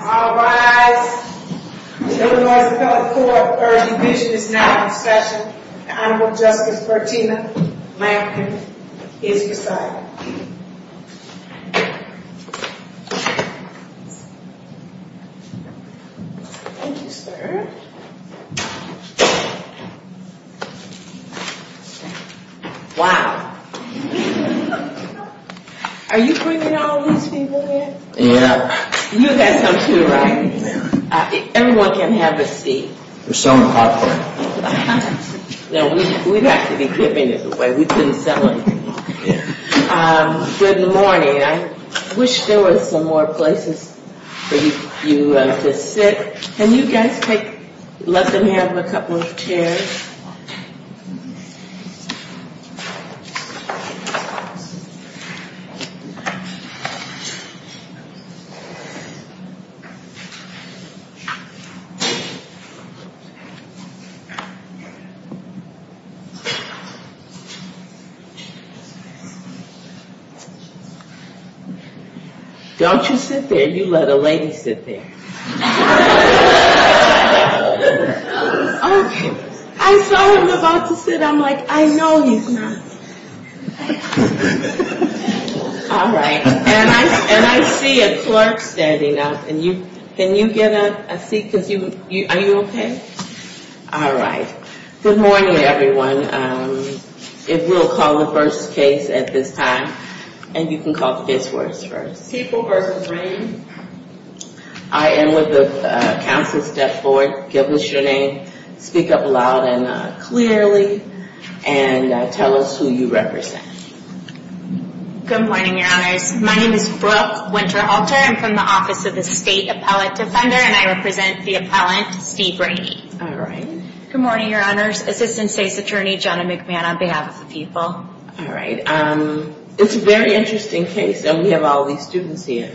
All rise. The Illinois Appellate Court Urgent Vision is now in session. The Honorable Justice Bertina Lampkin is residing. Thank you, sir. Wow. Are you putting all these people in? Yeah. You guys come too, right? Everyone can have a seat. We're selling popcorn. No, we'd have to be giving it away. We've been selling. We're in the morning. I wish there were some more places for you to sit. Can you guys let them have a couple of chairs? Don't you sit there. You let a lady sit there. I saw him about to sit. I'm like, I know he's not. All right. And I see a clerk standing up. Can you get a seat? Are you okay? All right. Good morning, everyone. It will call the first case at this time. And you can call the case where it's first. People versus Rainey. I am with the counsel. Step forward. Give us your name. Speak up loud and clearly. And tell us who you represent. Good morning, your honors. My name is Brooke Winterhalter. I'm from the Office of the State Appellate Defender. And I represent the appellant, Steve Rainey. All right. Good morning, your honors. Assistant State's Attorney, Jenna McMahon, on behalf of the people. All right. It's a very interesting case. And we have all these students here.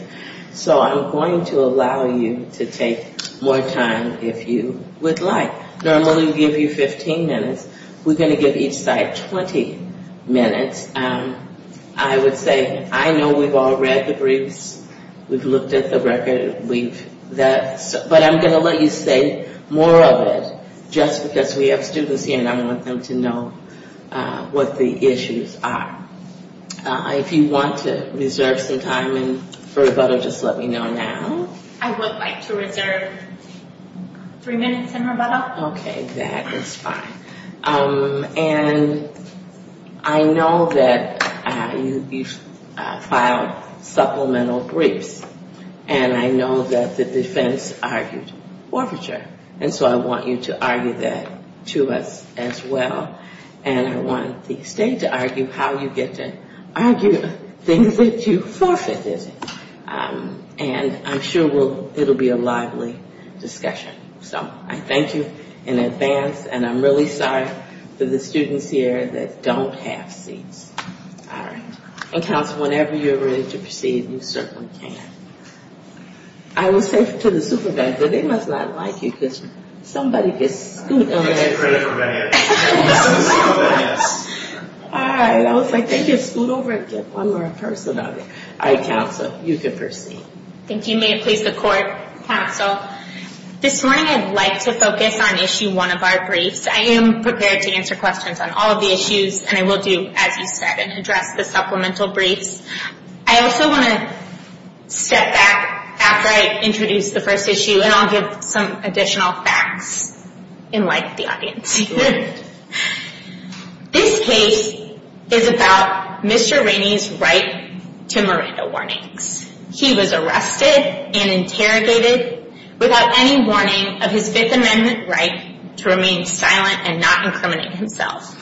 So I'm going to allow you to take more time if you would like. Normally we give you 15 minutes. We're going to give each side 20 minutes. I would say, I know we've all read the briefs. We've looked at the record. But I'm going to let you say more of it, just because we have students here and I want them to know what the issues are. If you want to reserve some time for rebuttal, just let me know now. I would like to reserve three minutes in rebuttal. Okay. That is fine. And I know that you filed supplemental briefs. And I know that the defense argued forfeiture. And so I want you to argue that to us as well. And I want the state to argue how you get to argue things that you forfeited. And I'm sure it'll be a lively discussion. So I thank you in advance. And I'm really sorry for the students here that don't have seats. All right. And counsel, whenever you're ready to proceed, you certainly can. I will say to the supervisor, they must not like you because somebody gets scooted. They get scooted over and get one more person of it. All right, counsel, you can proceed. Thank you. May it please the court. Counsel, this morning I'd like to focus on issue one of our briefs. I am prepared to answer questions on all of the issues. And I will do, as you said, and address the supplemental briefs. I also want to step back after I introduce the first issue. And I'll give some additional facts in light of the audience. This case is about Mr. Rainey's right to Miranda warnings. He was arrested and interrogated without any warning of his Fifth Amendment right to remain silent and not incriminate himself.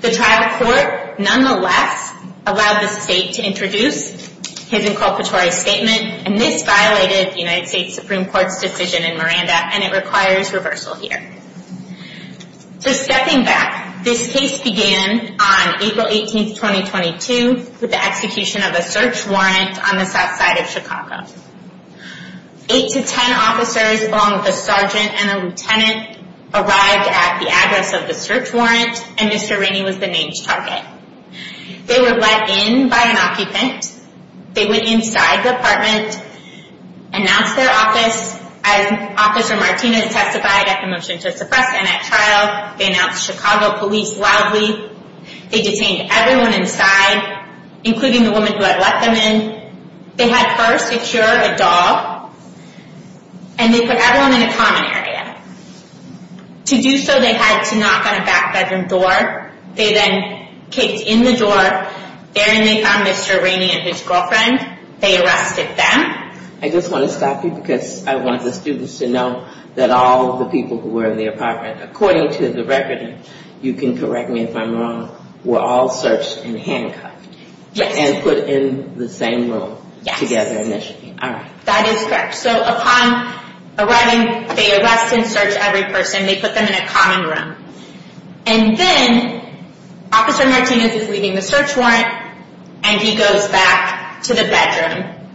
The trial court, nonetheless, allowed the state to introduce his inculpatory statement. And this violated the United States Supreme Court's decision in Miranda. And it requires reversal here. So stepping back, this case began on April 18, 2022, with the execution of a search warrant on the south side of Chicago. Eight to ten officers, along with a sergeant and a lieutenant, arrived at the address of the search warrant. And Mr. Rainey was the named target. They were let in by an occupant. They went inside the apartment, announced their office. As Officer Martinez testified at the motion to suppress the trial, they announced Chicago police loudly. They detained everyone inside, including the woman who had let them in. They had her secure a dog. And they put everyone in a common area. To do so, they had to knock on a back bedroom door. They then kicked in the door. There they found Mr. Rainey and his girlfriend. They arrested them. I just want to stop you because I want the students to know that all of the people who were in the apartment, according to the record, you can correct me if I'm wrong, were all searched and handcuffed. And put in the same room together initially. All right. That is correct. So upon arriving, they arrested and searched every person. They put them in a common room. And then Officer Martinez is leaving the search warrant. And he goes back to the bedroom.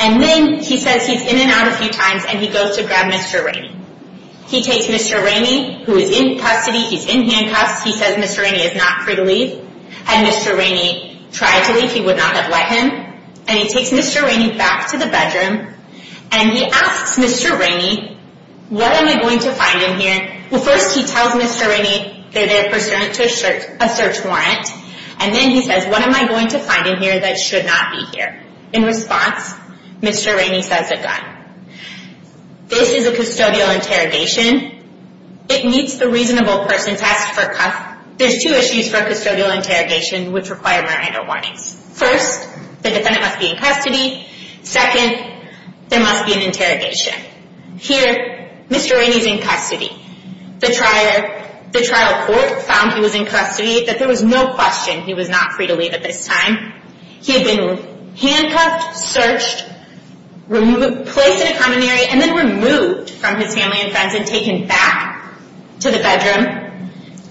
And then he says he's in and out a few times. And he goes to grab Mr. Rainey. He takes Mr. Rainey, who is in custody. He's in handcuffs. He says Mr. Rainey is not free to leave. Had Mr. Rainey tried to leave, he would not have let him. And he takes Mr. Rainey back to the bedroom. And he asks Mr. Rainey, what am I going to find in here? Well, first he tells Mr. Rainey that they're pursuant to a search warrant. And then he says, what am I going to find in here that should not be here? In response, Mr. Rainey says a gun. This is a custodial interrogation. It meets the reasonable person's asked for custody. There's two issues for custodial interrogation, which require Miranda warnings. First, the defendant must be in custody. Second, there must be an interrogation. Here, Mr. Rainey's in custody. The trial court found he was in custody, that there was no question he was not free to leave at this time. He had been handcuffed, searched, placed in a common area, and then removed from his family and friends and taken back to the bedroom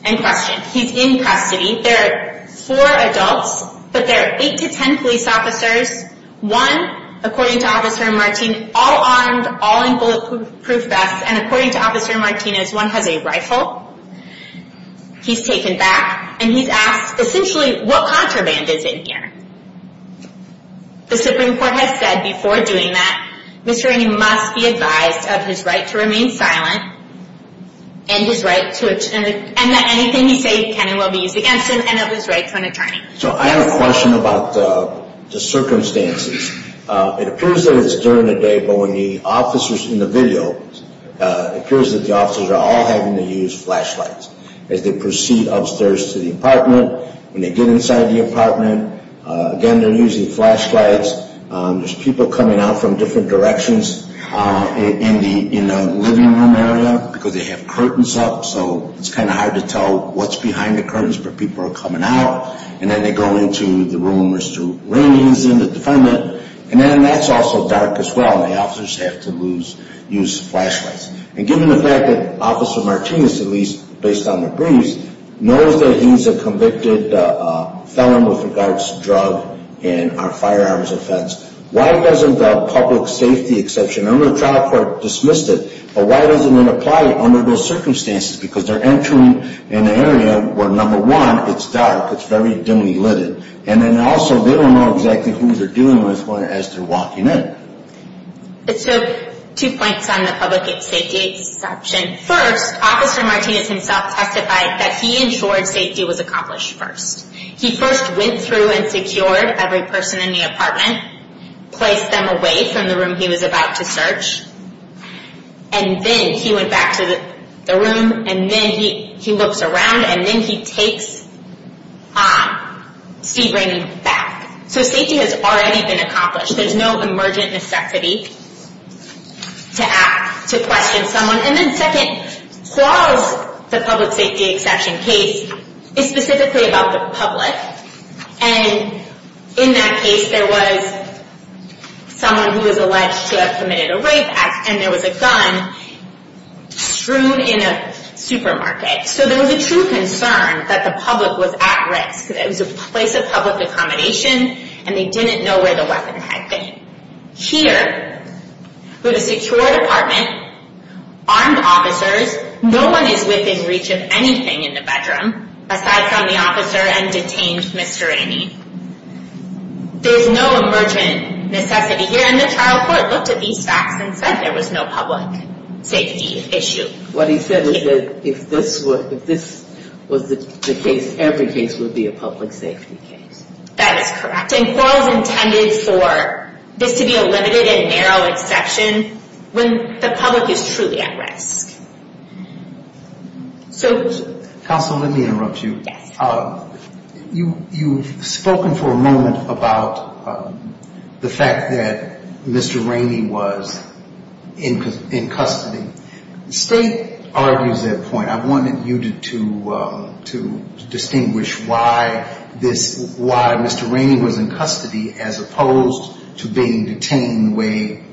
and questioned. He's in custody. There are four adults, but there are eight to 10 police officers. One, according to Officer Martini, all armed, all in bulletproof vests. And according to Officer Martini, one has a rifle. He's taken back. And he's asked, essentially, what contraband is in here? The Supreme Court has said, before doing that, Mr. Rainey must be advised of his right to remain silent and his right to, and that anything he say can and will be used against him, and of his right to an attorney. So I have a question about the circumstances. It appears that it's during the day, but when the officers in the video, it appears that the officers are all having to use flashlights as they proceed upstairs to the apartment. When they get inside the apartment, again, they're using flashlights. There's people coming out from different directions in the living room area because they have curtains up. So it's kind of hard to tell what's behind the curtains, but people are coming out. And then they go into the room where Mr. Rainey is in the defendant. And then that's also dark as well. The officers have to use flashlights. And given the fact that Officer Martinez, at least based on the briefs, knows that he's a convicted felon with regards to drug and firearms offense, why doesn't the public safety exception under the trial court dismiss it? But why doesn't it apply under those circumstances? Because they're entering an area where, number one, it's dark. It's very dimly lit. And then also, they don't know exactly who they're dealing with as they're walking in. And so two points on the public safety exception. First, Officer Martinez himself testified that he ensured safety was accomplished first. He first went through and secured every person in the apartment, placed them away from the room he was about to search. And then he went back to the room. And then he looks around. And then he takes Steve Rainey back. So safety has already been accomplished. There's no emergent necessity to question someone. And then second, Quarles, the public safety exception case, is specifically about the public. And in that case, there was someone who was alleged to have committed a rape act. And there was a gun strewn in a supermarket. So there was a true concern that the public was at risk. It was a place of public accommodation. And they didn't know where the weapon had been. Here, with a secure apartment, armed officers, no one is within reach of anything in the bedroom aside from the officer and detained Mr. Rainey. There's no emergent necessity here. And the trial court looked at these facts and said there was no public safety issue. What he said was that if this was the case, every case would be a public safety case. That is correct. And Quarles intended for this to be a limited and narrow exception when the public is truly at risk. So... Counsel, let me interrupt you. You've spoken for a moment about the fact that Mr. Rainey was in custody. State argues that point. I wanted you to distinguish why Mr. Rainey was in custody as opposed to being detained the way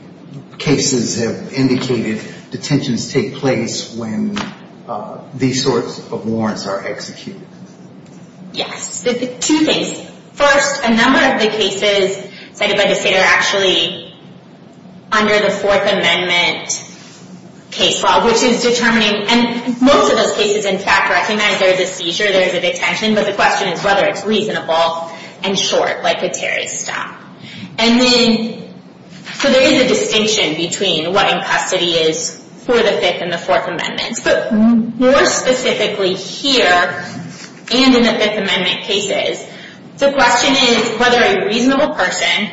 cases have indicated detentions take place when these sorts of warrants are executed. Yes, two things. First, a number of the cases cited by the state are actually under the Fourth Amendment case law, which is determining... Most of those cases, in fact, recognize there's a seizure, there's a detention, but the question is whether it's reasonable and short. Like, could Terry stop? And then... So there is a distinction between what in custody is for the Fifth and the Fourth Amendments. But more specifically here and in the Fifth Amendment cases, the question is whether a reasonable person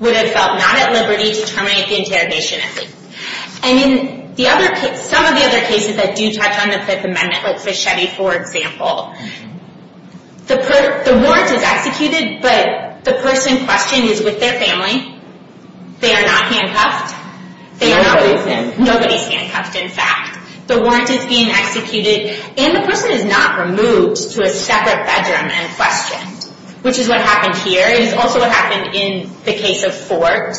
would have felt not at liberty to terminate the interrogation at least. And in some of the other cases that do touch on the Fifth Amendment, like Fischetti, for example, the warrant is executed, but the person questioned is with their family. They are not handcuffed. Nobody's handcuffed, in fact. The warrant is being executed and the person is not removed to a separate bedroom and questioned, which is what happened here. It is also what happened in the case of Fort,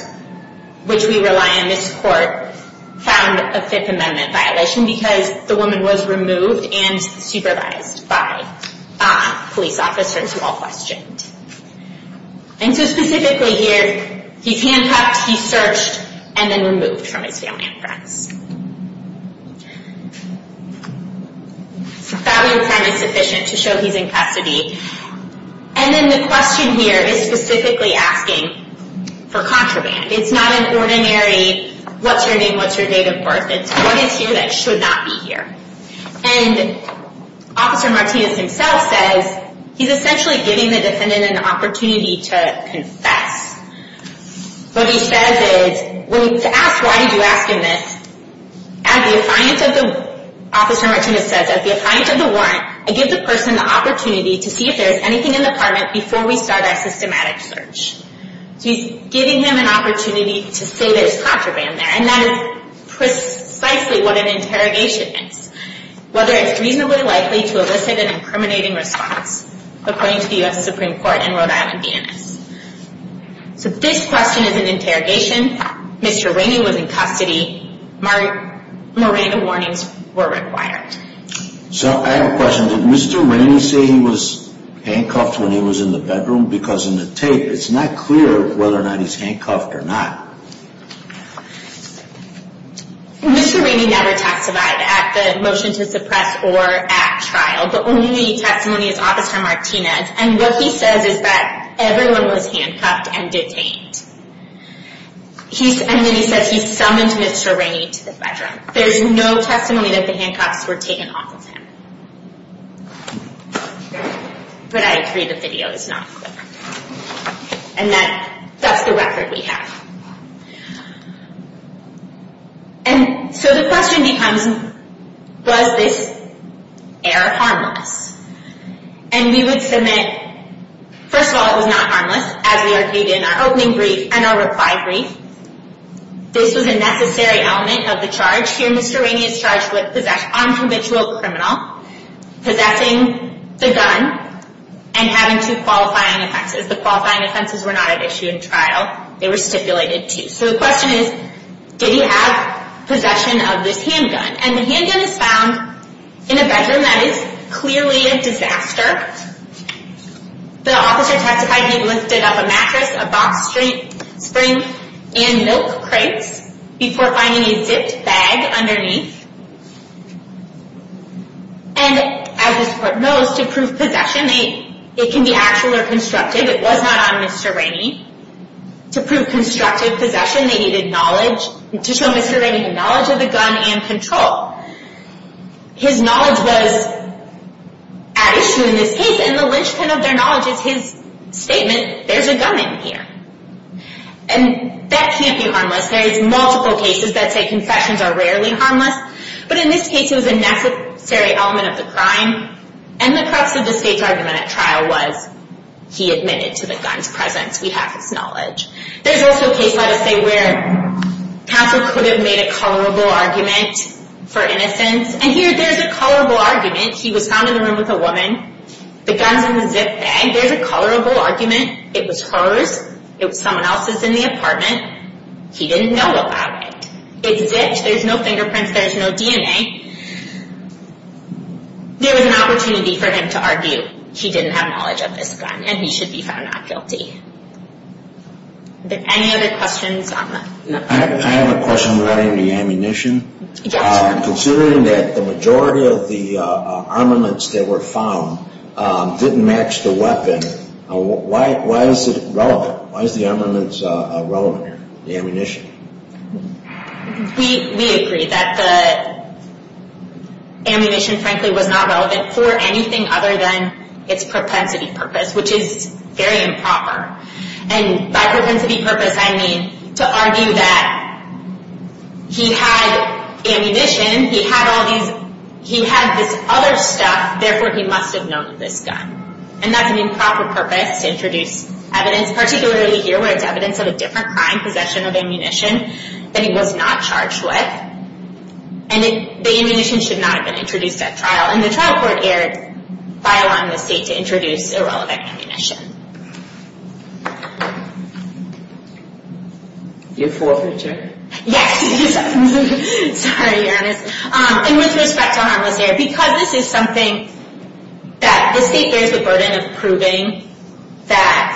which we rely on. This court found a Fifth Amendment violation because the woman was removed and supervised by police officers who all questioned. And so specifically here, he's handcuffed, he's searched, and then removed from his family and friends. It's a badly informed and sufficient to show he's in custody. And then the question here is specifically asking for contraband. It's not an ordinary, what's your name? What's your date of birth? It's what is here that should not be here. And Officer Martinez himself says he's essentially giving the defendant an opportunity to confess. What he says is, when you ask, why did you ask him this? Officer Martinez says, the client of the warrant, I give the person the opportunity to see if there's anything in the apartment before we start our systematic search. So he's giving them an opportunity to say there's contraband there. And that is precisely what an interrogation is. Whether it's reasonably likely to elicit an incriminating response, according to the U.S. Supreme Court and Rhode Island DNS. So this question is an interrogation. Mr. Rainey was in custody. More random warnings were required. So I have a question. Did Mr. Rainey say he was handcuffed when he was in the bedroom? Because in the tape, it's not clear whether or not he's handcuffed or not. Mr. Rainey never testified at the motion to suppress or at trial. The only testimony is Officer Martinez. And what he says is that everyone was handcuffed and detained. And then he says he summoned Mr. Rainey to the bedroom. There's no testimony that the handcuffs were taken off of him. But I agree the video is not clear. And that's the record we have. And so the question becomes, was this error harmless? And we would submit, first of all, it was not harmless, as we argued in our opening brief and our reply brief. This was a necessary element of the charge. Here, Mr. Rainey is charged with possession, unconventional criminal, possessing the gun and having two qualifying offenses. The qualifying offenses were not at issue in trial. They were stipulated to. So the question is, did he have possession of this handgun? And the handgun is found in a bedroom. That is clearly a disaster. The officer testified he lifted up a mattress, a box spring, and milk crates before finding a zipped bag underneath. And as this court knows, to prove possession, it can be actual or constructive. It was not on Mr. Rainey. To prove constructive possession, they needed knowledge to show Mr. Rainey the knowledge of the gun and control. His knowledge was at issue in this case. And the linchpin of their knowledge is his statement, there's a gun in here. And that can't be harmless. There's multiple cases that say confessions are rarely harmless. But in this case, it was a necessary element of the crime. And the crux of the state's argument at trial was he admitted to the gun's presence. We have his knowledge. There's also a case, let us say, where counsel could have made a colorable argument for innocence. And here, there's a colorable argument. He was found in the room with a woman. The gun's in the zipped bag. There's a colorable argument. It was hers. It was someone else's in the apartment. He didn't know about it. It's zipped. There's no fingerprints. There's no DNA. There was an opportunity for him to argue. He didn't have knowledge of this gun and he should be found not guilty. Any other questions? I have a question regarding the ammunition. Considering that the majority of the armaments that were found didn't match the weapon, why is it relevant? Why is the armaments relevant here, the ammunition? We agree that the ammunition, frankly, was not relevant for anything other than its propensity purpose, which is very improper. And by propensity purpose, I mean to argue that he had ammunition, he had all these, he had this other stuff, therefore, he must have known of this gun. And that's an improper purpose to introduce evidence, particularly here where it's evidence of a different crime, possession of ammunition, that he was not charged with. And the ammunition should not have been introduced at trial. And the trial court erred by allowing the state to introduce irrelevant ammunition. Your fourth objection? Yes. Sorry, Your Honor. And with respect to harmless air, because this is something that the state bears the burden of proving that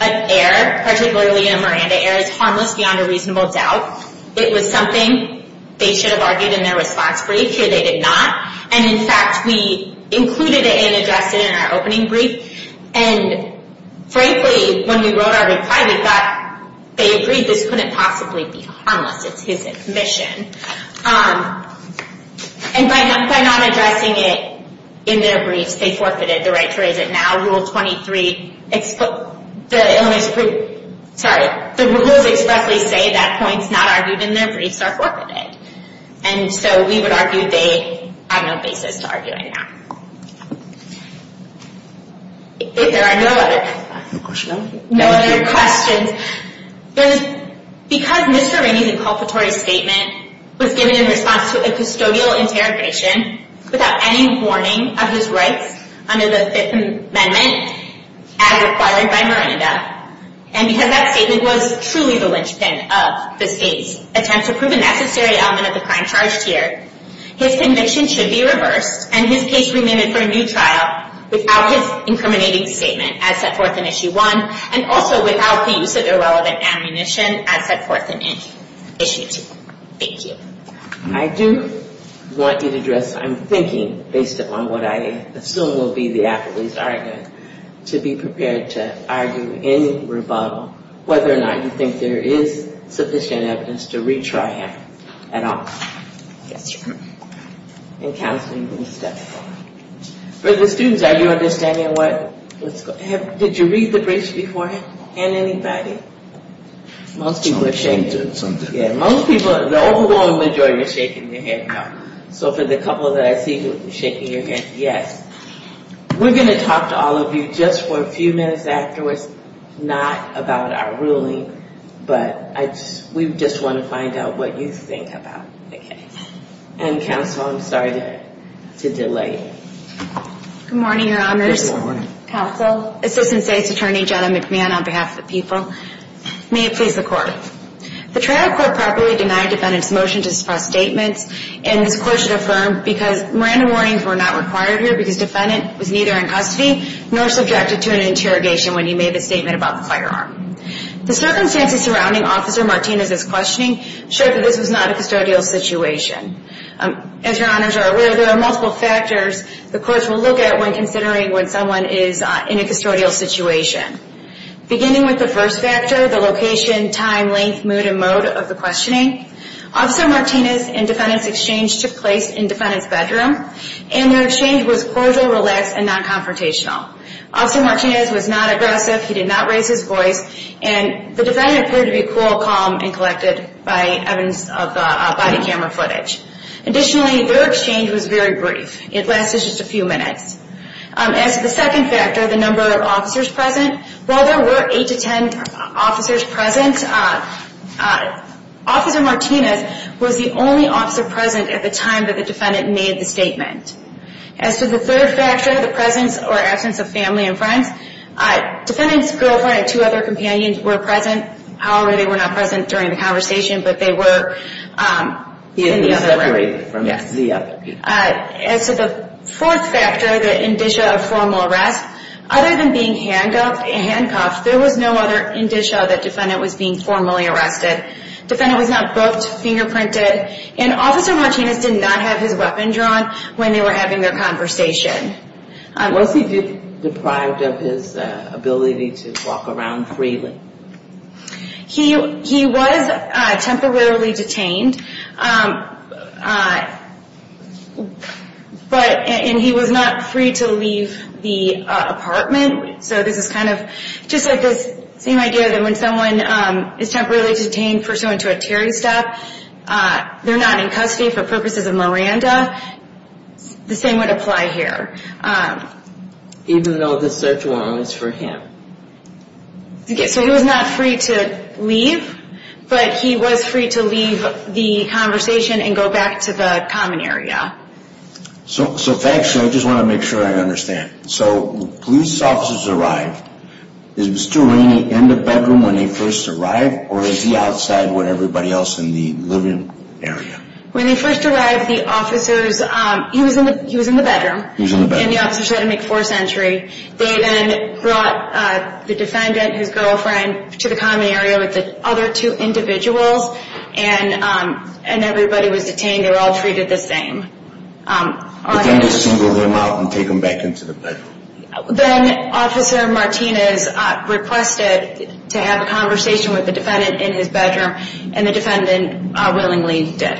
an air, particularly a Miranda air, is harmless beyond a reasonable doubt, it was something they should have argued in their response brief. Here, they did not. And in fact, we included it and addressed it in our opening brief. And frankly, when we wrote our reply, we thought they agreed this couldn't possibly be harmless. It's his admission. And by not addressing it in their briefs, they forfeited the right to raise it now. Rule 23, the Illinois Supreme, sorry, the rules expressly say that points not argued in their briefs are forfeited. And so we would argue they have no basis to argue it now. If there are no other questions, there's because Mr. Rainey's inculpatory statement was given in response to a custodial interrogation without any warning of his rights under the Fifth Amendment, as required by Miranda, and because that statement was truly the linchpin of the state's attempt to prove a necessary element of the crime charged here, his conviction should be reversed and his case remanded for a new trial without his incriminating statement as set forth in Issue 1 and also without the use of irrelevant ammunition as set forth in Issue 2. Thank you. I do want you to address, I'm thinking based upon what I assume will be the applicant's argument, to be prepared to argue in rebuttal whether or not you think there is sufficient evidence to retry him at all. Yes, Your Honor. In counseling, we step forward. For the students, are you understanding what, did you read the briefs beforehand? And anybody? Most people are shaking. Yeah, most people, the overwhelming majority are shaking their head no. So for the couple that I see who are shaking their head, yes. We're going to talk to all of you just for a few minutes afterwards, not about our ruling, but we just want to find out what you think about the case. And counsel, I'm sorry to delay. Good morning, Your Honors. Counsel, Assistant State's Attorney, Jenna McMahon, on behalf of the people. May it please the Court. The trial court properly denied defendant's motion to disperse statements, and this Court should affirm because random warnings were not required here because defendant was neither in custody nor subjected to an interrogation when he made the statement about the firearm. The circumstances surrounding Officer Martinez's questioning show that this was not a custodial situation. As Your Honors are aware, there are multiple factors the Court will look at when considering when someone is in a custodial situation. Beginning with the first factor, the location, time, length, mood, and mode of the questioning, Officer Martinez and defendant's exchange took place in defendant's bedroom, and their exchange was cordial, relaxed, and non-confrontational. Officer Martinez was not aggressive. He did not raise his voice, and the defendant appeared to be cool, calm, and collected by evidence of body camera footage. Additionally, their exchange was very brief. It lasted just a few minutes. As to the second factor, the number of officers present, while there were 8 to 10 officers present, Officer Martinez was the only officer present at the time that the defendant made the statement. As to the third factor, the presence or absence of family and friends, defendant's girlfriend and two other companions were present. However, they were not present during the conversation, but they were in the other room. As to the fourth factor, the indicia of formal arrest, other than being handcuffed, there was no other indicia that defendant was being formally arrested. Defendant was not booked, fingerprinted, and Officer Martinez did not have his weapon drawn when they were having their conversation. Was he deprived of his ability to walk around freely? He was temporarily detained. But, and he was not free to leave the apartment. So this is kind of just like this same idea that when someone is temporarily detained pursuant to a Terry stop, they're not in custody for purposes of Miranda. The same would apply here. Even though the search warrant was for him? So he was not free to leave, but he was free to leave the conversation and go back to the common area. So, so actually, I just want to make sure I understand. So police officers arrived. Is Mr. Rainey in the bedroom when they first arrived? Or is he outside with everybody else in the living area? When they first arrived, the officers, he was in the, he was in the bedroom. He was in the bedroom. And the officers had to make forced entry. They then brought the defendant, his girlfriend to the common area with the other two individuals. And, and everybody was detained. They were all treated the same. Then they singled him out and take him back into the bedroom. Then officer Martinez requested to have a conversation with the defendant in his bedroom. And the defendant willingly did.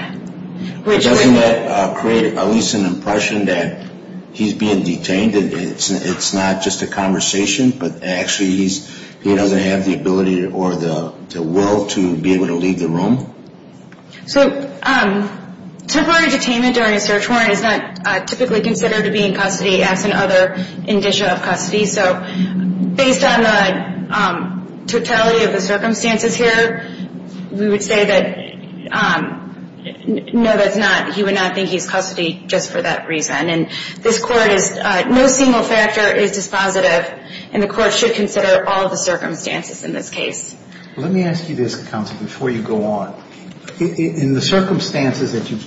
Which doesn't that create at least an impression that he's being detained? And it's, it's not just a conversation, but actually he's, he doesn't have the ability or the, the will to be able to leave the room. So temporary detainment during a search warrant is not typically considered to be in custody as an other indicia of custody. So based on the totality of the circumstances here, we would say that, no, that's not, he would not think he's custody just for that reason. And this court is, no single factor is dispositive. And the court should consider all of the circumstances in this case. Let me ask you this counsel, before you go on, in the circumstances that you've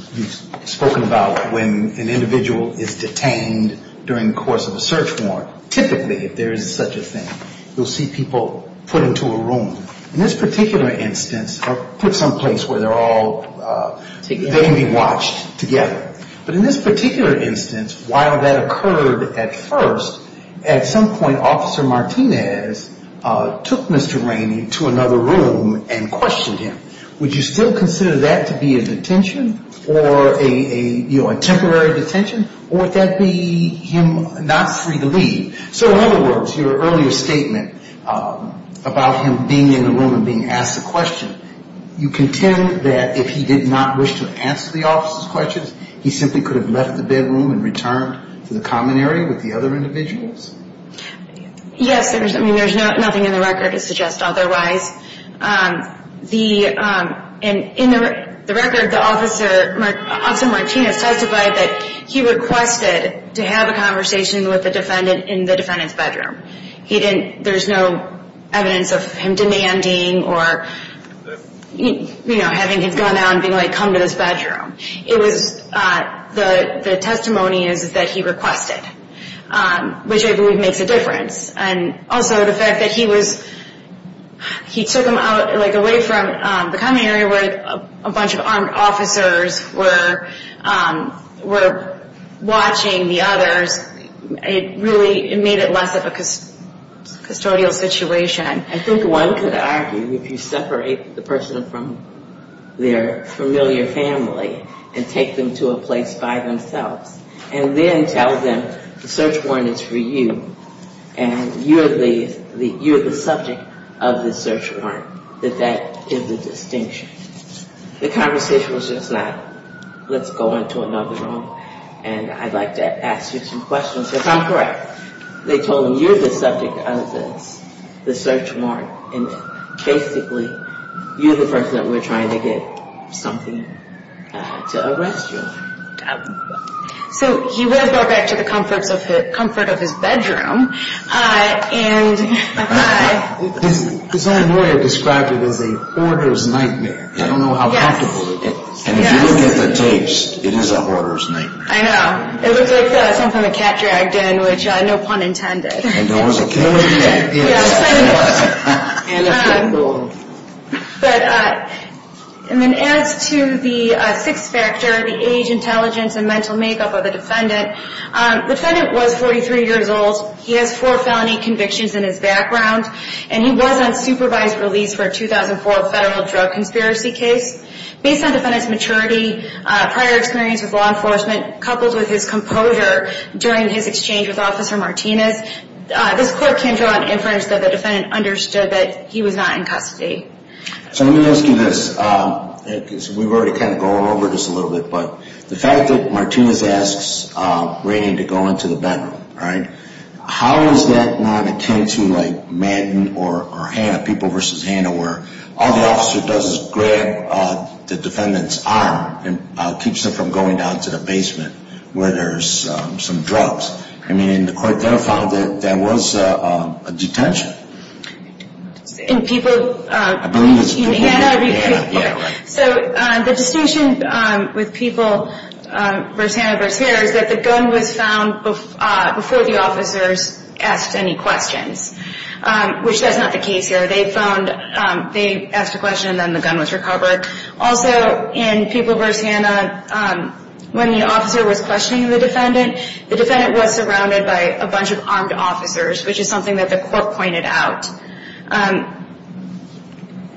spoken about, when an individual is detained during the course of a search warrant, typically if there is such a thing, you'll see people put into a room. In this particular instance, or put someplace where they're all, they can be watched together. But in this particular instance, while that occurred at first, at some point officer Martinez took Mr. Rainey to another room and questioned him. Would you still consider that to be a detention or a temporary detention? Or would that be him not free to leave? So in other words, your earlier statement about him being in the room and being asked the question, you contend that if he did not wish to answer the officer's questions, he simply could have left the bedroom and returned to the common area with the other individuals? Yes, there's nothing in the record to suggest otherwise. And in the record, the officer, officer Martinez testified that he requested to have a conversation with the defendant in the defendant's bedroom. He didn't, there's no evidence of him demanding or having his gun out and being like, come to this bedroom. It was, the testimony is that he requested, which I believe makes a difference. And also the fact that he was, he took him out like away from the common area where a bunch of armed officers were watching the others. It really made it less of a custodial situation. I think one could argue if you separate the person from their familiar family and take them to a place by themselves and then tell them the search warrant is for you and you're the subject of the search warrant, that that gives a distinction. The conversation was just not, let's go into another room and I'd like to ask you some questions. If I'm correct, they told him you're the subject of this, the search warrant. And basically, you're the person that we're trying to get something to arrest you on. So he was brought back to the comfort of his bedroom. And his own lawyer described it as a hoarder's nightmare. I don't know how comfortable it is. And if you look at the tapes, it is a hoarder's nightmare. I know. It looks like something the cat dragged in, which no pun intended. And then as to the sixth factor, the age, intelligence, and mental makeup of the defendant, the defendant was 43 years old. He has four felony convictions in his background. And he was on supervised release for a 2004 federal drug conspiracy case. Based on the defendant's maturity, prior experience with law enforcement, coupled with his composure during his exchange with Officer Martinez, this court can draw an inference that the defendant understood that he was not in custody. So let me ask you this, we've already kind of gone over this a little bit, but the fact that Martinez asks Rainey to go into the bedroom, all right, how is that not akin to like Madden or Hanna, People v. Hanna, where all the officer does is grab the defendant's arm and keeps him from going down to the basement where there's some drugs. I mean, the court there found that that was a detention. And people... I believe it's... So the distinction with People v. Hanna v. Here is that the gun was found before the officers asked any questions, which that's not the case here. They phoned, they asked a question and then the gun was recovered. Also in People v. Hanna, when the officer was questioning the defendant, the defendant was surrounded by a bunch of armed officers, which is something that the court pointed out.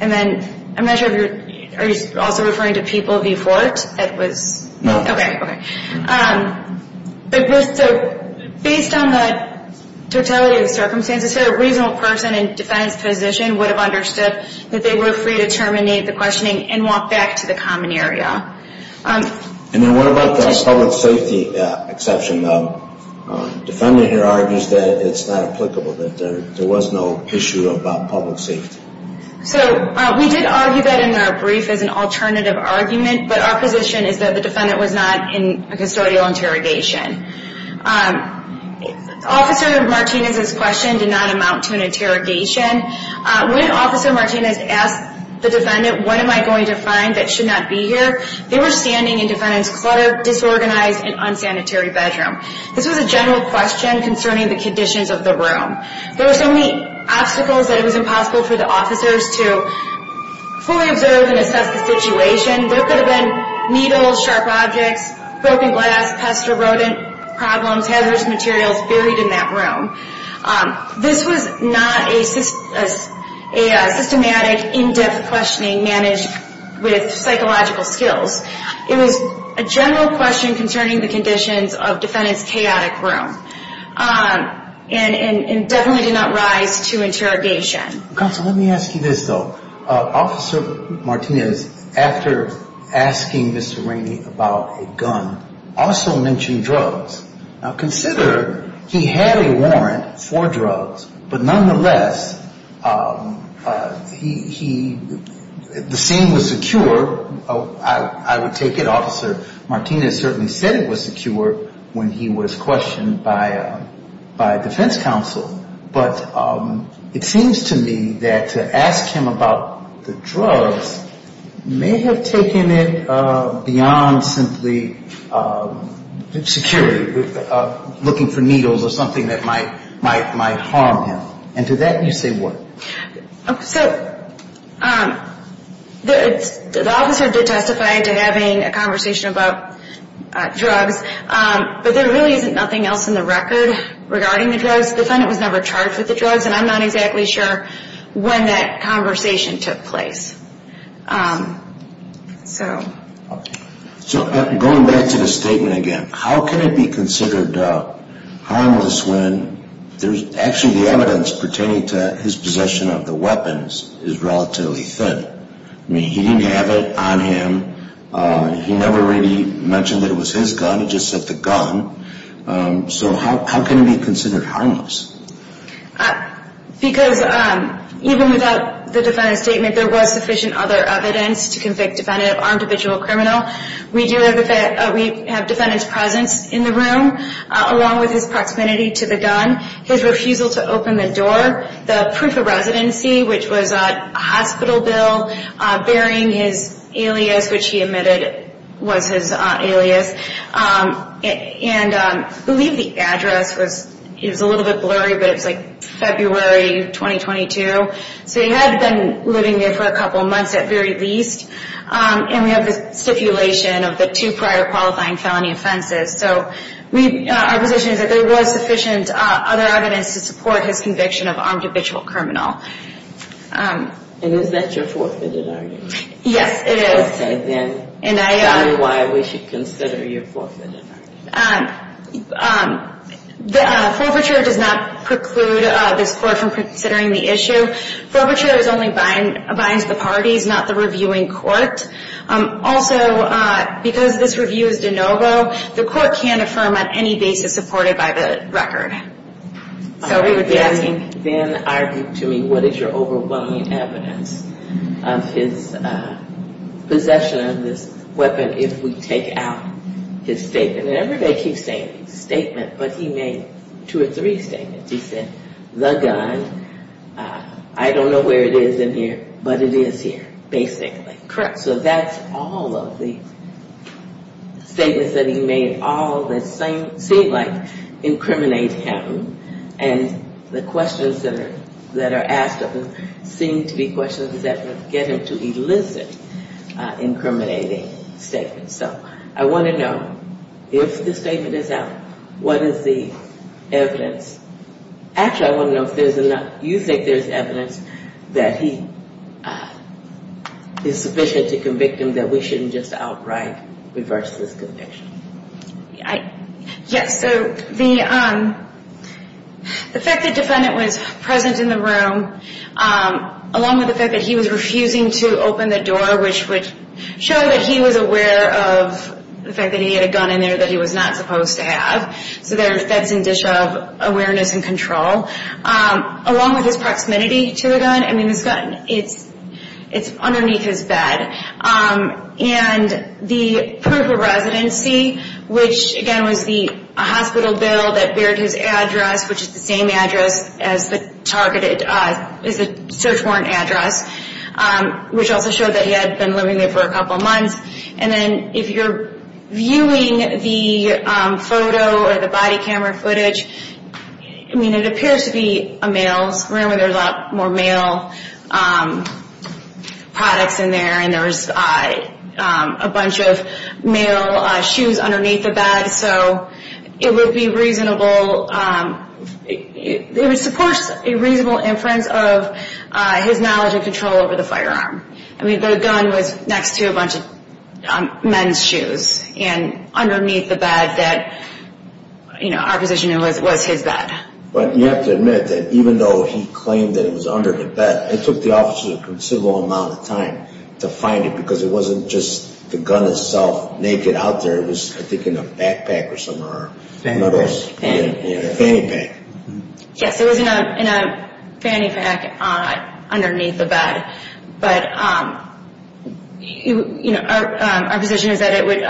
And then I'm not sure if you're... Are you also referring to People v. Fort? It was... Okay, okay. But based on the totality of the circumstances here, a reasonable person in defendant's position would have understood that they were free to terminate the questioning and walk back to the common area. And then what about the public safety exception? Defendant here argues that it's not applicable, that there was no issue about public safety. So we did argue that in our brief as an alternative argument, but our position is that the defendant was not in a custodial interrogation. Officer Martinez's question did not amount to an interrogation. When Officer Martinez asked the defendant, what am I going to find that should not be here? They were standing in defendant's cluttered, disorganized and unsanitary bedroom. This was a general question concerning the conditions of the room. There were so many obstacles that it was impossible for the officers to fully observe and assess the situation. There could have been needles, sharp objects, broken glass, pest or rodent problems, hazardous materials buried in that room. This was not a systematic, in-depth questioning managed with psychological skills. It was a general question concerning the conditions of defendant's chaotic room. And definitely did not rise to interrogation. Counsel, let me ask you this though. Officer Martinez, after asking Mr. Rainey about a gun, also mentioned drugs. Now consider he had a warrant for drugs, but nonetheless, the scene was secure. I would take it Officer Martinez certainly said it was secure when he was questioned by defense counsel. But it seems to me that to ask him about the drugs may have taken it beyond simply security, looking for needles or something that might harm him. And to that, you say what? So the officer did testify to having a conversation about drugs. But there really isn't nothing else in the record regarding the drugs. The defendant was never charged with the drugs. And I'm not exactly sure when that conversation took place. So. So going back to the statement again, how can it be considered harmless when there's actually the evidence pertaining to his possession of the weapons is relatively thin? I mean, he didn't have it on him. He never really mentioned that it was his gun. He just said the gun. So how can it be considered harmless? Because even without the defendant's statement, there was sufficient other evidence to convict defendant of armed habitual criminal. We do have defendant's presence in the room, along with his proximity to the gun, his refusal to open the door, the proof of residency, which was a hospital bill, bearing his alias, which he admitted was his alias. And I believe the address was, it was a little bit blurry, but it was like February 2022. So he had been living there for a couple of months at very least. And we have the stipulation of the two prior qualifying felony offenses. So our position is that there was sufficient other evidence to support his conviction of armed habitual criminal. And is that your forfeited argument? Yes, it is. Okay, then. Tell me why we should consider your forfeited argument. Forfeiture does not preclude this court from considering the issue. Forfeiture is only binds the parties, not the reviewing court. Also, because this review is de novo, the court can't affirm on any basis supported by the record. So we would be asking. Then argue to me, what is your overwhelming evidence of his possession of this weapon, if we take out his statement? And everybody keeps saying statement, but he made two or three statements. He said, the gun, I don't know where it is in here, but it is here, basically. So that's all of the statements that he made all the same, seemed like incriminate him. And the questions that are asked of him seem to be questions that would get him to elicit incriminating statements. So I want to know, if the statement is out, what is the evidence? Actually, I want to know if there's enough. You think there's evidence that he is sufficient to convict him that we shouldn't just outright reverse this conviction? Yes, so the fact the defendant was present in the room, along with the fact that he was refusing to open the door, which would show that he was aware of the fact that he had a gun in there that he was not supposed to have. So that's in dishow of awareness and control. Along with his proximity to the gun, I mean, it's underneath his bed. And the proof of residency, which again was the hospital bill that bared his address, which is the same address as the targeted search warrant address, which also showed that he had been living there for a couple of months. And then if you're viewing the photo or the body camera footage, I mean, it appears to be a male's room and there's a lot more male products in there. And there's a bunch of male shoes underneath the bed. So it would be reasonable. It would support a reasonable inference of his knowledge and control over the firearm. I mean, the gun was next to a bunch of men's shoes and underneath the bed that, you know, our position was his bed. But you have to admit that even though he claimed that it was under the bed, it took the officers a considerable amount of time to find it because it wasn't just the gun itself naked out there. It was, I think, in a backpack or somewhere. Fanny pack. Yes, it was in a fanny pack underneath the bed. But, you know, our position is that it would,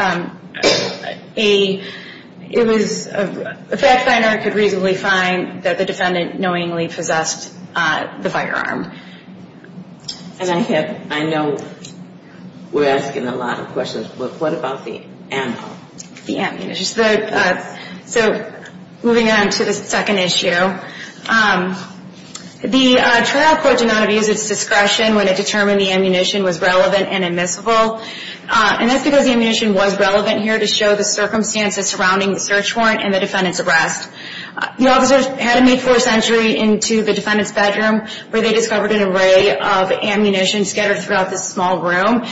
it was a fact finder could reasonably find that the defendant knowingly possessed the firearm. And I know we're asking a lot of questions, but what about the ammo? The ammunition. So moving on to the second issue. The trial court did not abuse its discretion when it determined the ammunition was relevant and admissible. And that's because the ammunition was relevant here to show the circumstances surrounding the search warrant and the defendant's arrest. The officers had to make forced entry into the defendant's bedroom where they discovered an array of ammunition scattered throughout this small room,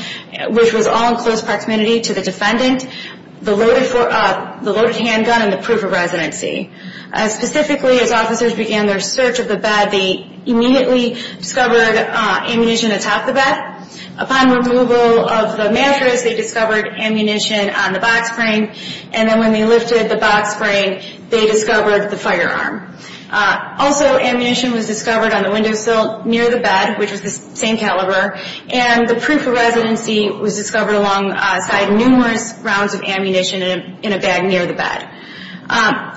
which was all in close proximity to the defendant. The loaded handgun and the proof of residency. Specifically, as officers began their search of the bed, they immediately discovered ammunition atop the bed. Upon removal of the mattress, they discovered ammunition on the box frame. And then when they lifted the box frame, they discovered the firearm. Also, ammunition was discovered on the windowsill near the bed, which was the same caliber. And the proof of residency was discovered alongside numerous rounds of ammunition in a bag near the bed.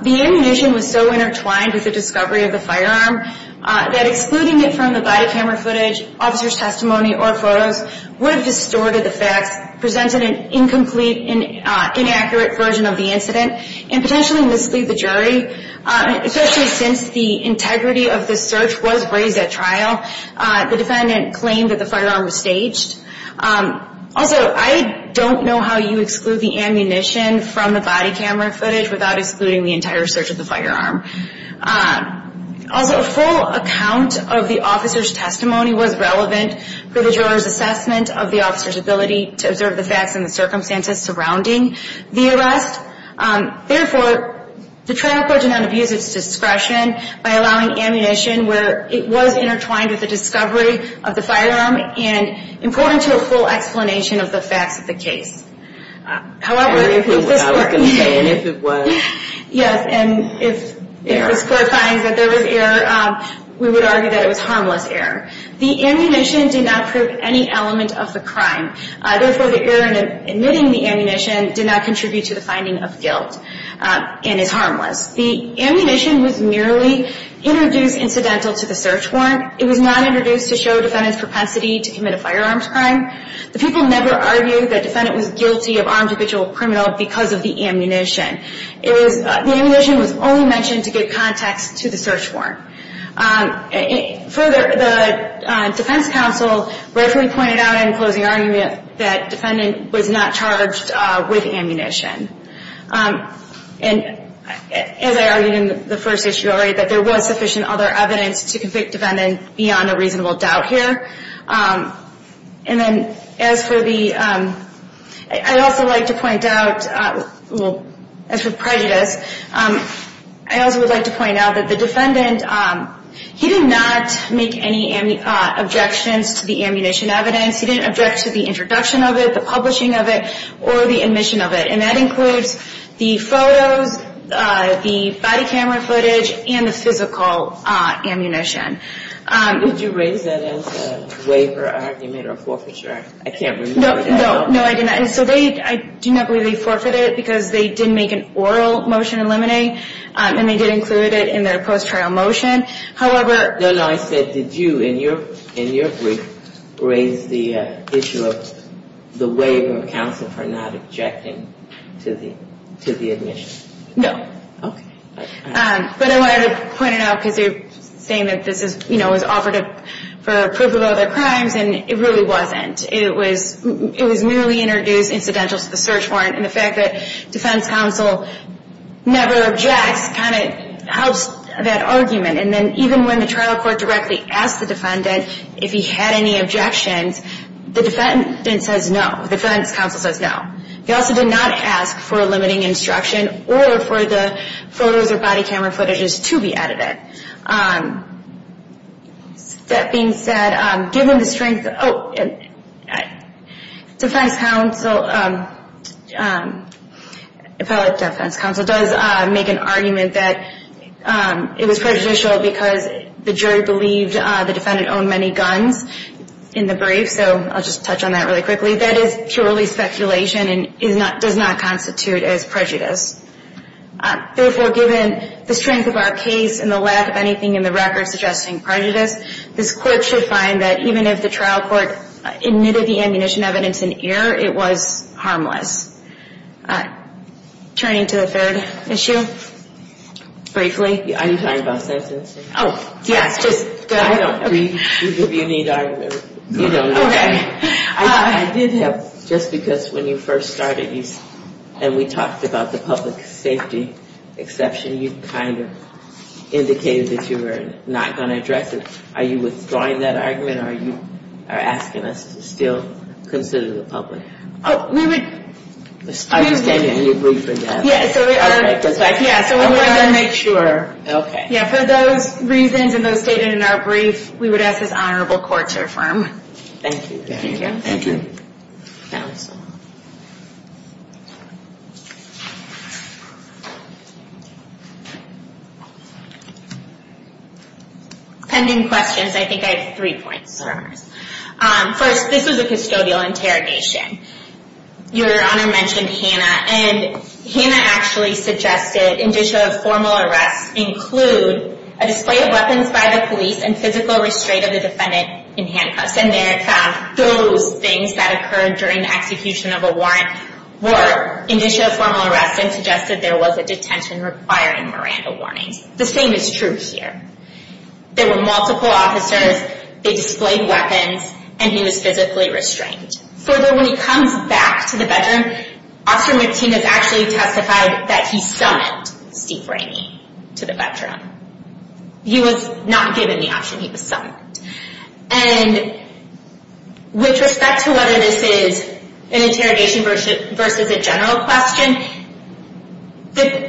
The ammunition was so intertwined with the discovery of the firearm that excluding it from the body camera footage, officer's testimony, or photos would have distorted the facts, presented an incomplete and inaccurate version of the incident, and potentially mislead the jury. Especially since the integrity of the search was raised at trial, the defendant claimed that the firearm was staged. Also, I don't know how you exclude the ammunition from the body camera footage without excluding the entire search of the firearm. Also, a full account of the officer's testimony was relevant for the juror's assessment of the officer's ability to observe the facts and the circumstances surrounding the arrest. Therefore, the trial could not abuse its discretion by allowing ammunition where it was intertwined with the discovery of the firearm and important to a full explanation of the facts of the case. However, if this were... I was gonna say, and if it was... Yes, and if it's clarifying that there was error, we would argue that it was harmless error. The ammunition did not prove any element of the crime. Therefore, the error in admitting the ammunition did not contribute to the finding of guilt and is harmless. The ammunition was merely introduced incidental to the search warrant. It was not introduced to show defendant's propensity to commit a firearms crime. The people never argued that defendant was guilty of armed habitual criminal because of the ammunition. The ammunition was only mentioned to give context to the search warrant. Further, the defense counsel briefly pointed out in closing argument that defendant was not charged with ammunition. And as I argued in the first issue already that there was sufficient other evidence to convict defendant beyond a reasonable doubt here. And then as for the... I also like to point out... As for prejudice, I also would like to point out that the defendant, he did not make any objections to the ammunition evidence. He didn't object to the introduction of it, the publishing of it, or the admission of it. And that includes the photos, the body camera footage, and the physical ammunition. Did you raise that as a waiver argument or forfeiture? I can't remember. No, no, no, I did not. So they, I do not believe they forfeited because they didn't make an oral motion eliminating. And they did include it in their post-trial motion. However... No, no, I said, did you in your brief raise the issue of the waiver counsel for not objecting to the admission? No. Okay. But I wanted to point it out because you're saying that this is, you know, was offered for proof of other crimes and it really wasn't. It was merely introduced incidental to the search warrant. And the fact that defense counsel never objects kind of helps that argument. And then even when the trial court directly asked the defendant if he had any objections, the defendant says no. The defense counsel says no. He also did not ask for a limiting instruction or for the photos or body camera footages to be edited. That being said, given the strength... Oh, defense counsel... Appellate defense counsel does make an argument that it was prejudicial because the jury believed the defendant owned many guns in the brief. So I'll just touch on that really quickly. That is purely speculation and does not constitute as prejudice. Therefore, given the strength of our case and the lack of anything in the record suggesting prejudice, this court should find that even if the trial court admitted the ammunition evidence in error, it was harmless. Turning to the third issue. Briefly. I'm talking about sentencing. Oh, yes. Just go ahead. I don't agree. If you need, you don't need. Okay. I did have... Just because when you first started, and we talked about the public safety exception, you've kind of indicated that you were not going to address it. Are you withdrawing that argument? Are you asking us to still consider the public? Oh, we would... I understand that you agree with that. Yes. For those reasons and those stated in our brief, we would ask this honorable court to affirm. Thank you. Pending questions. I think I have three points, Your Honors. First, this was a custodial interrogation. Your Honor mentioned Hannah, and Hannah actually suggested in addition of formal arrests include a display of weapons by the police and physical restraint of the defendant in handcuffs. And there it found those things that occurred during the execution of a warrant were initial formal arrest and suggested there was a detention requiring Miranda warnings. The same is true here. There were multiple officers, they displayed weapons, and he was physically restrained. Further, when he comes back to the bedroom, Officer Martinez actually testified that he summoned Steve Ramey to the bedroom. He was not given the option. He was summoned. And with respect to whether this is an interrogation versus a general question, the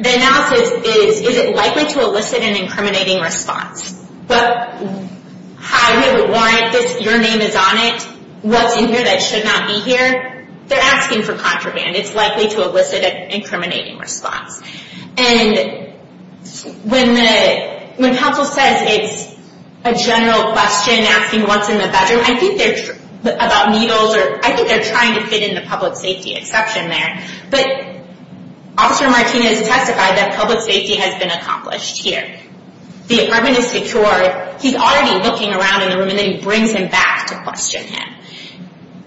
analysis is, is it likely to elicit an incriminating response? How do we warrant this? Your name is on it. What's in here that should not be here? They're asking for contraband. It's likely to elicit an incriminating response. And when counsel says it's a general question asking what's in the bedroom, I think they're about needles I think they're trying to fit in the public safety exception there. But Officer Martinez testified that public safety has been accomplished here. The apartment is secure. He's already looking around in the room and then he brings him back to question him.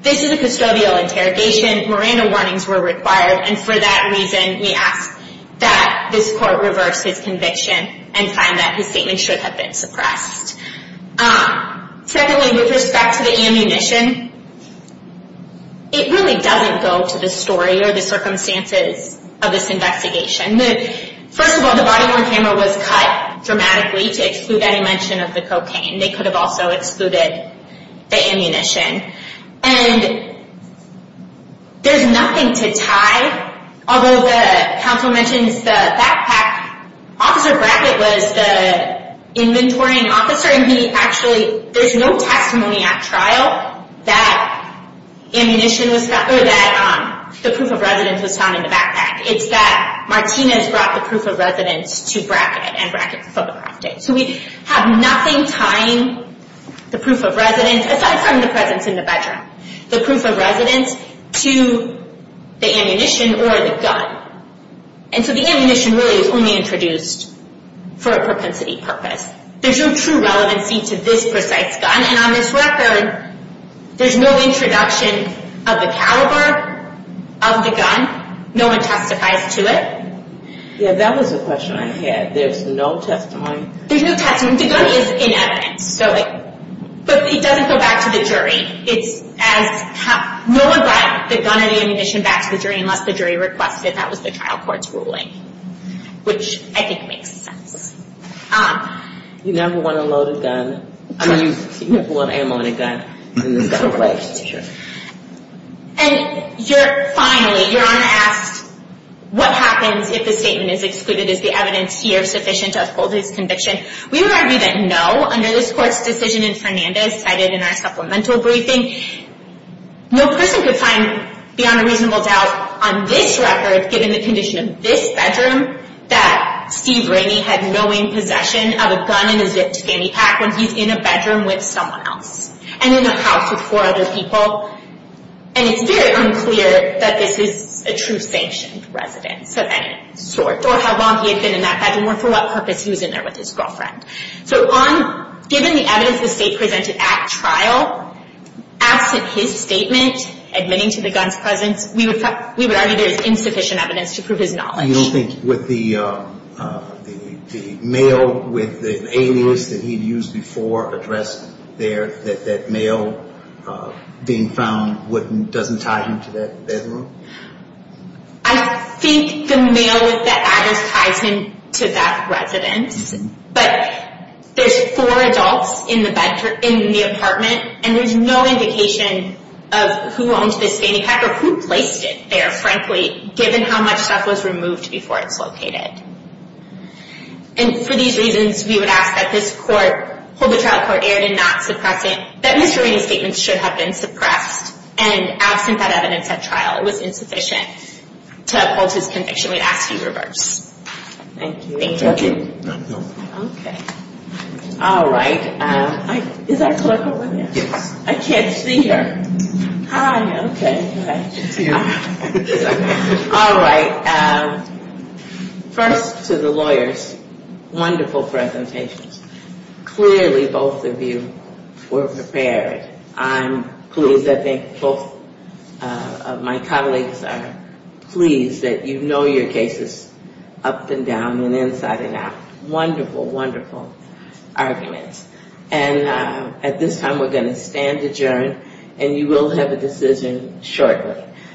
This is a custodial interrogation. Miranda warnings were required. And for that reason, we ask that this court reverse his conviction and find that his statement should have been suppressed. Secondly, with respect to the ammunition, it really doesn't go to the story or the circumstances of this investigation. First of all, the bodywork camera was cut dramatically to exclude any mention of the cocaine. They could have also excluded the ammunition. And there's nothing to tie. Although the counsel mentions the backpack, Officer Brackett was the inventorying officer. And he actually, there's no testimony at trial that the proof of residence was found in the backpack. It's that Martinez brought the proof of residence to Brackett and Brackett photographed it. So we have nothing tying the proof of residence, aside from the presence in the bedroom, the proof of residence to the ammunition or the gun. And so the ammunition really was only introduced for a propensity purpose. There's no true relevancy to this precise gun. And on this record, there's no introduction of the caliber of the gun. No one testifies to it. Yeah, that was a question I had. There's no testimony. There's no testimony. The gun is in evidence. But it doesn't go back to the jury. No one brought the gun or the ammunition back to the jury unless the jury requested. That was the trial court's ruling, which I think makes sense. You never want to load a gun. You can't load ammo in a gun. And finally, Your Honor asked, what happens if the statement is excluded? Is the evidence here sufficient to uphold his conviction? We would argue that no. Under this court's decision, and Fernandez cited in our supplemental briefing, no person could find beyond a reasonable doubt on this record, given the condition of this bedroom, that Steve Rainey had no ink possession of a gun in a zipped fanny pack when he's in a bedroom with someone else, and in a house with four other people. And it's very unclear that this is a true sanctioned residence of any sort, or how long he had been in that bedroom, or for what purpose he was in there with his girlfriend. So given the evidence the state presented at trial, absent his statement, admitting to the gun's presence, we would argue there is insufficient evidence to prove his knowledge. You don't think with the mail, with the alias that he used before addressed there, that that mail being found wouldn't, doesn't tie him to that bedroom? I think the mail with that address ties him to that residence. But there's four adults in the bedroom, in the apartment, and there's no indication of who owns this fanny pack, or who placed it there, frankly, given how much stuff was removed before it's located. And for these reasons, we would ask that this court, hold the trial court air to not suppress it, that Mr. Rainey's statement should have been suppressed, and absent that evidence at trial, it was insufficient to uphold his conviction, we'd ask you to reverse. Thank you. Thank you. Thank you. No, no. Okay. All right. Is that a clerk over there? Yes. I can't see her. Hi, okay. Hi. Good to see you. All right. So, first to the lawyers, wonderful presentations. Clearly, both of you were prepared. I'm pleased, I think, both of my colleagues are pleased that you know your cases up and down, and inside and out. Wonderful, wonderful arguments. And at this time, we're going to stand adjourned, and you will have a decision shortly.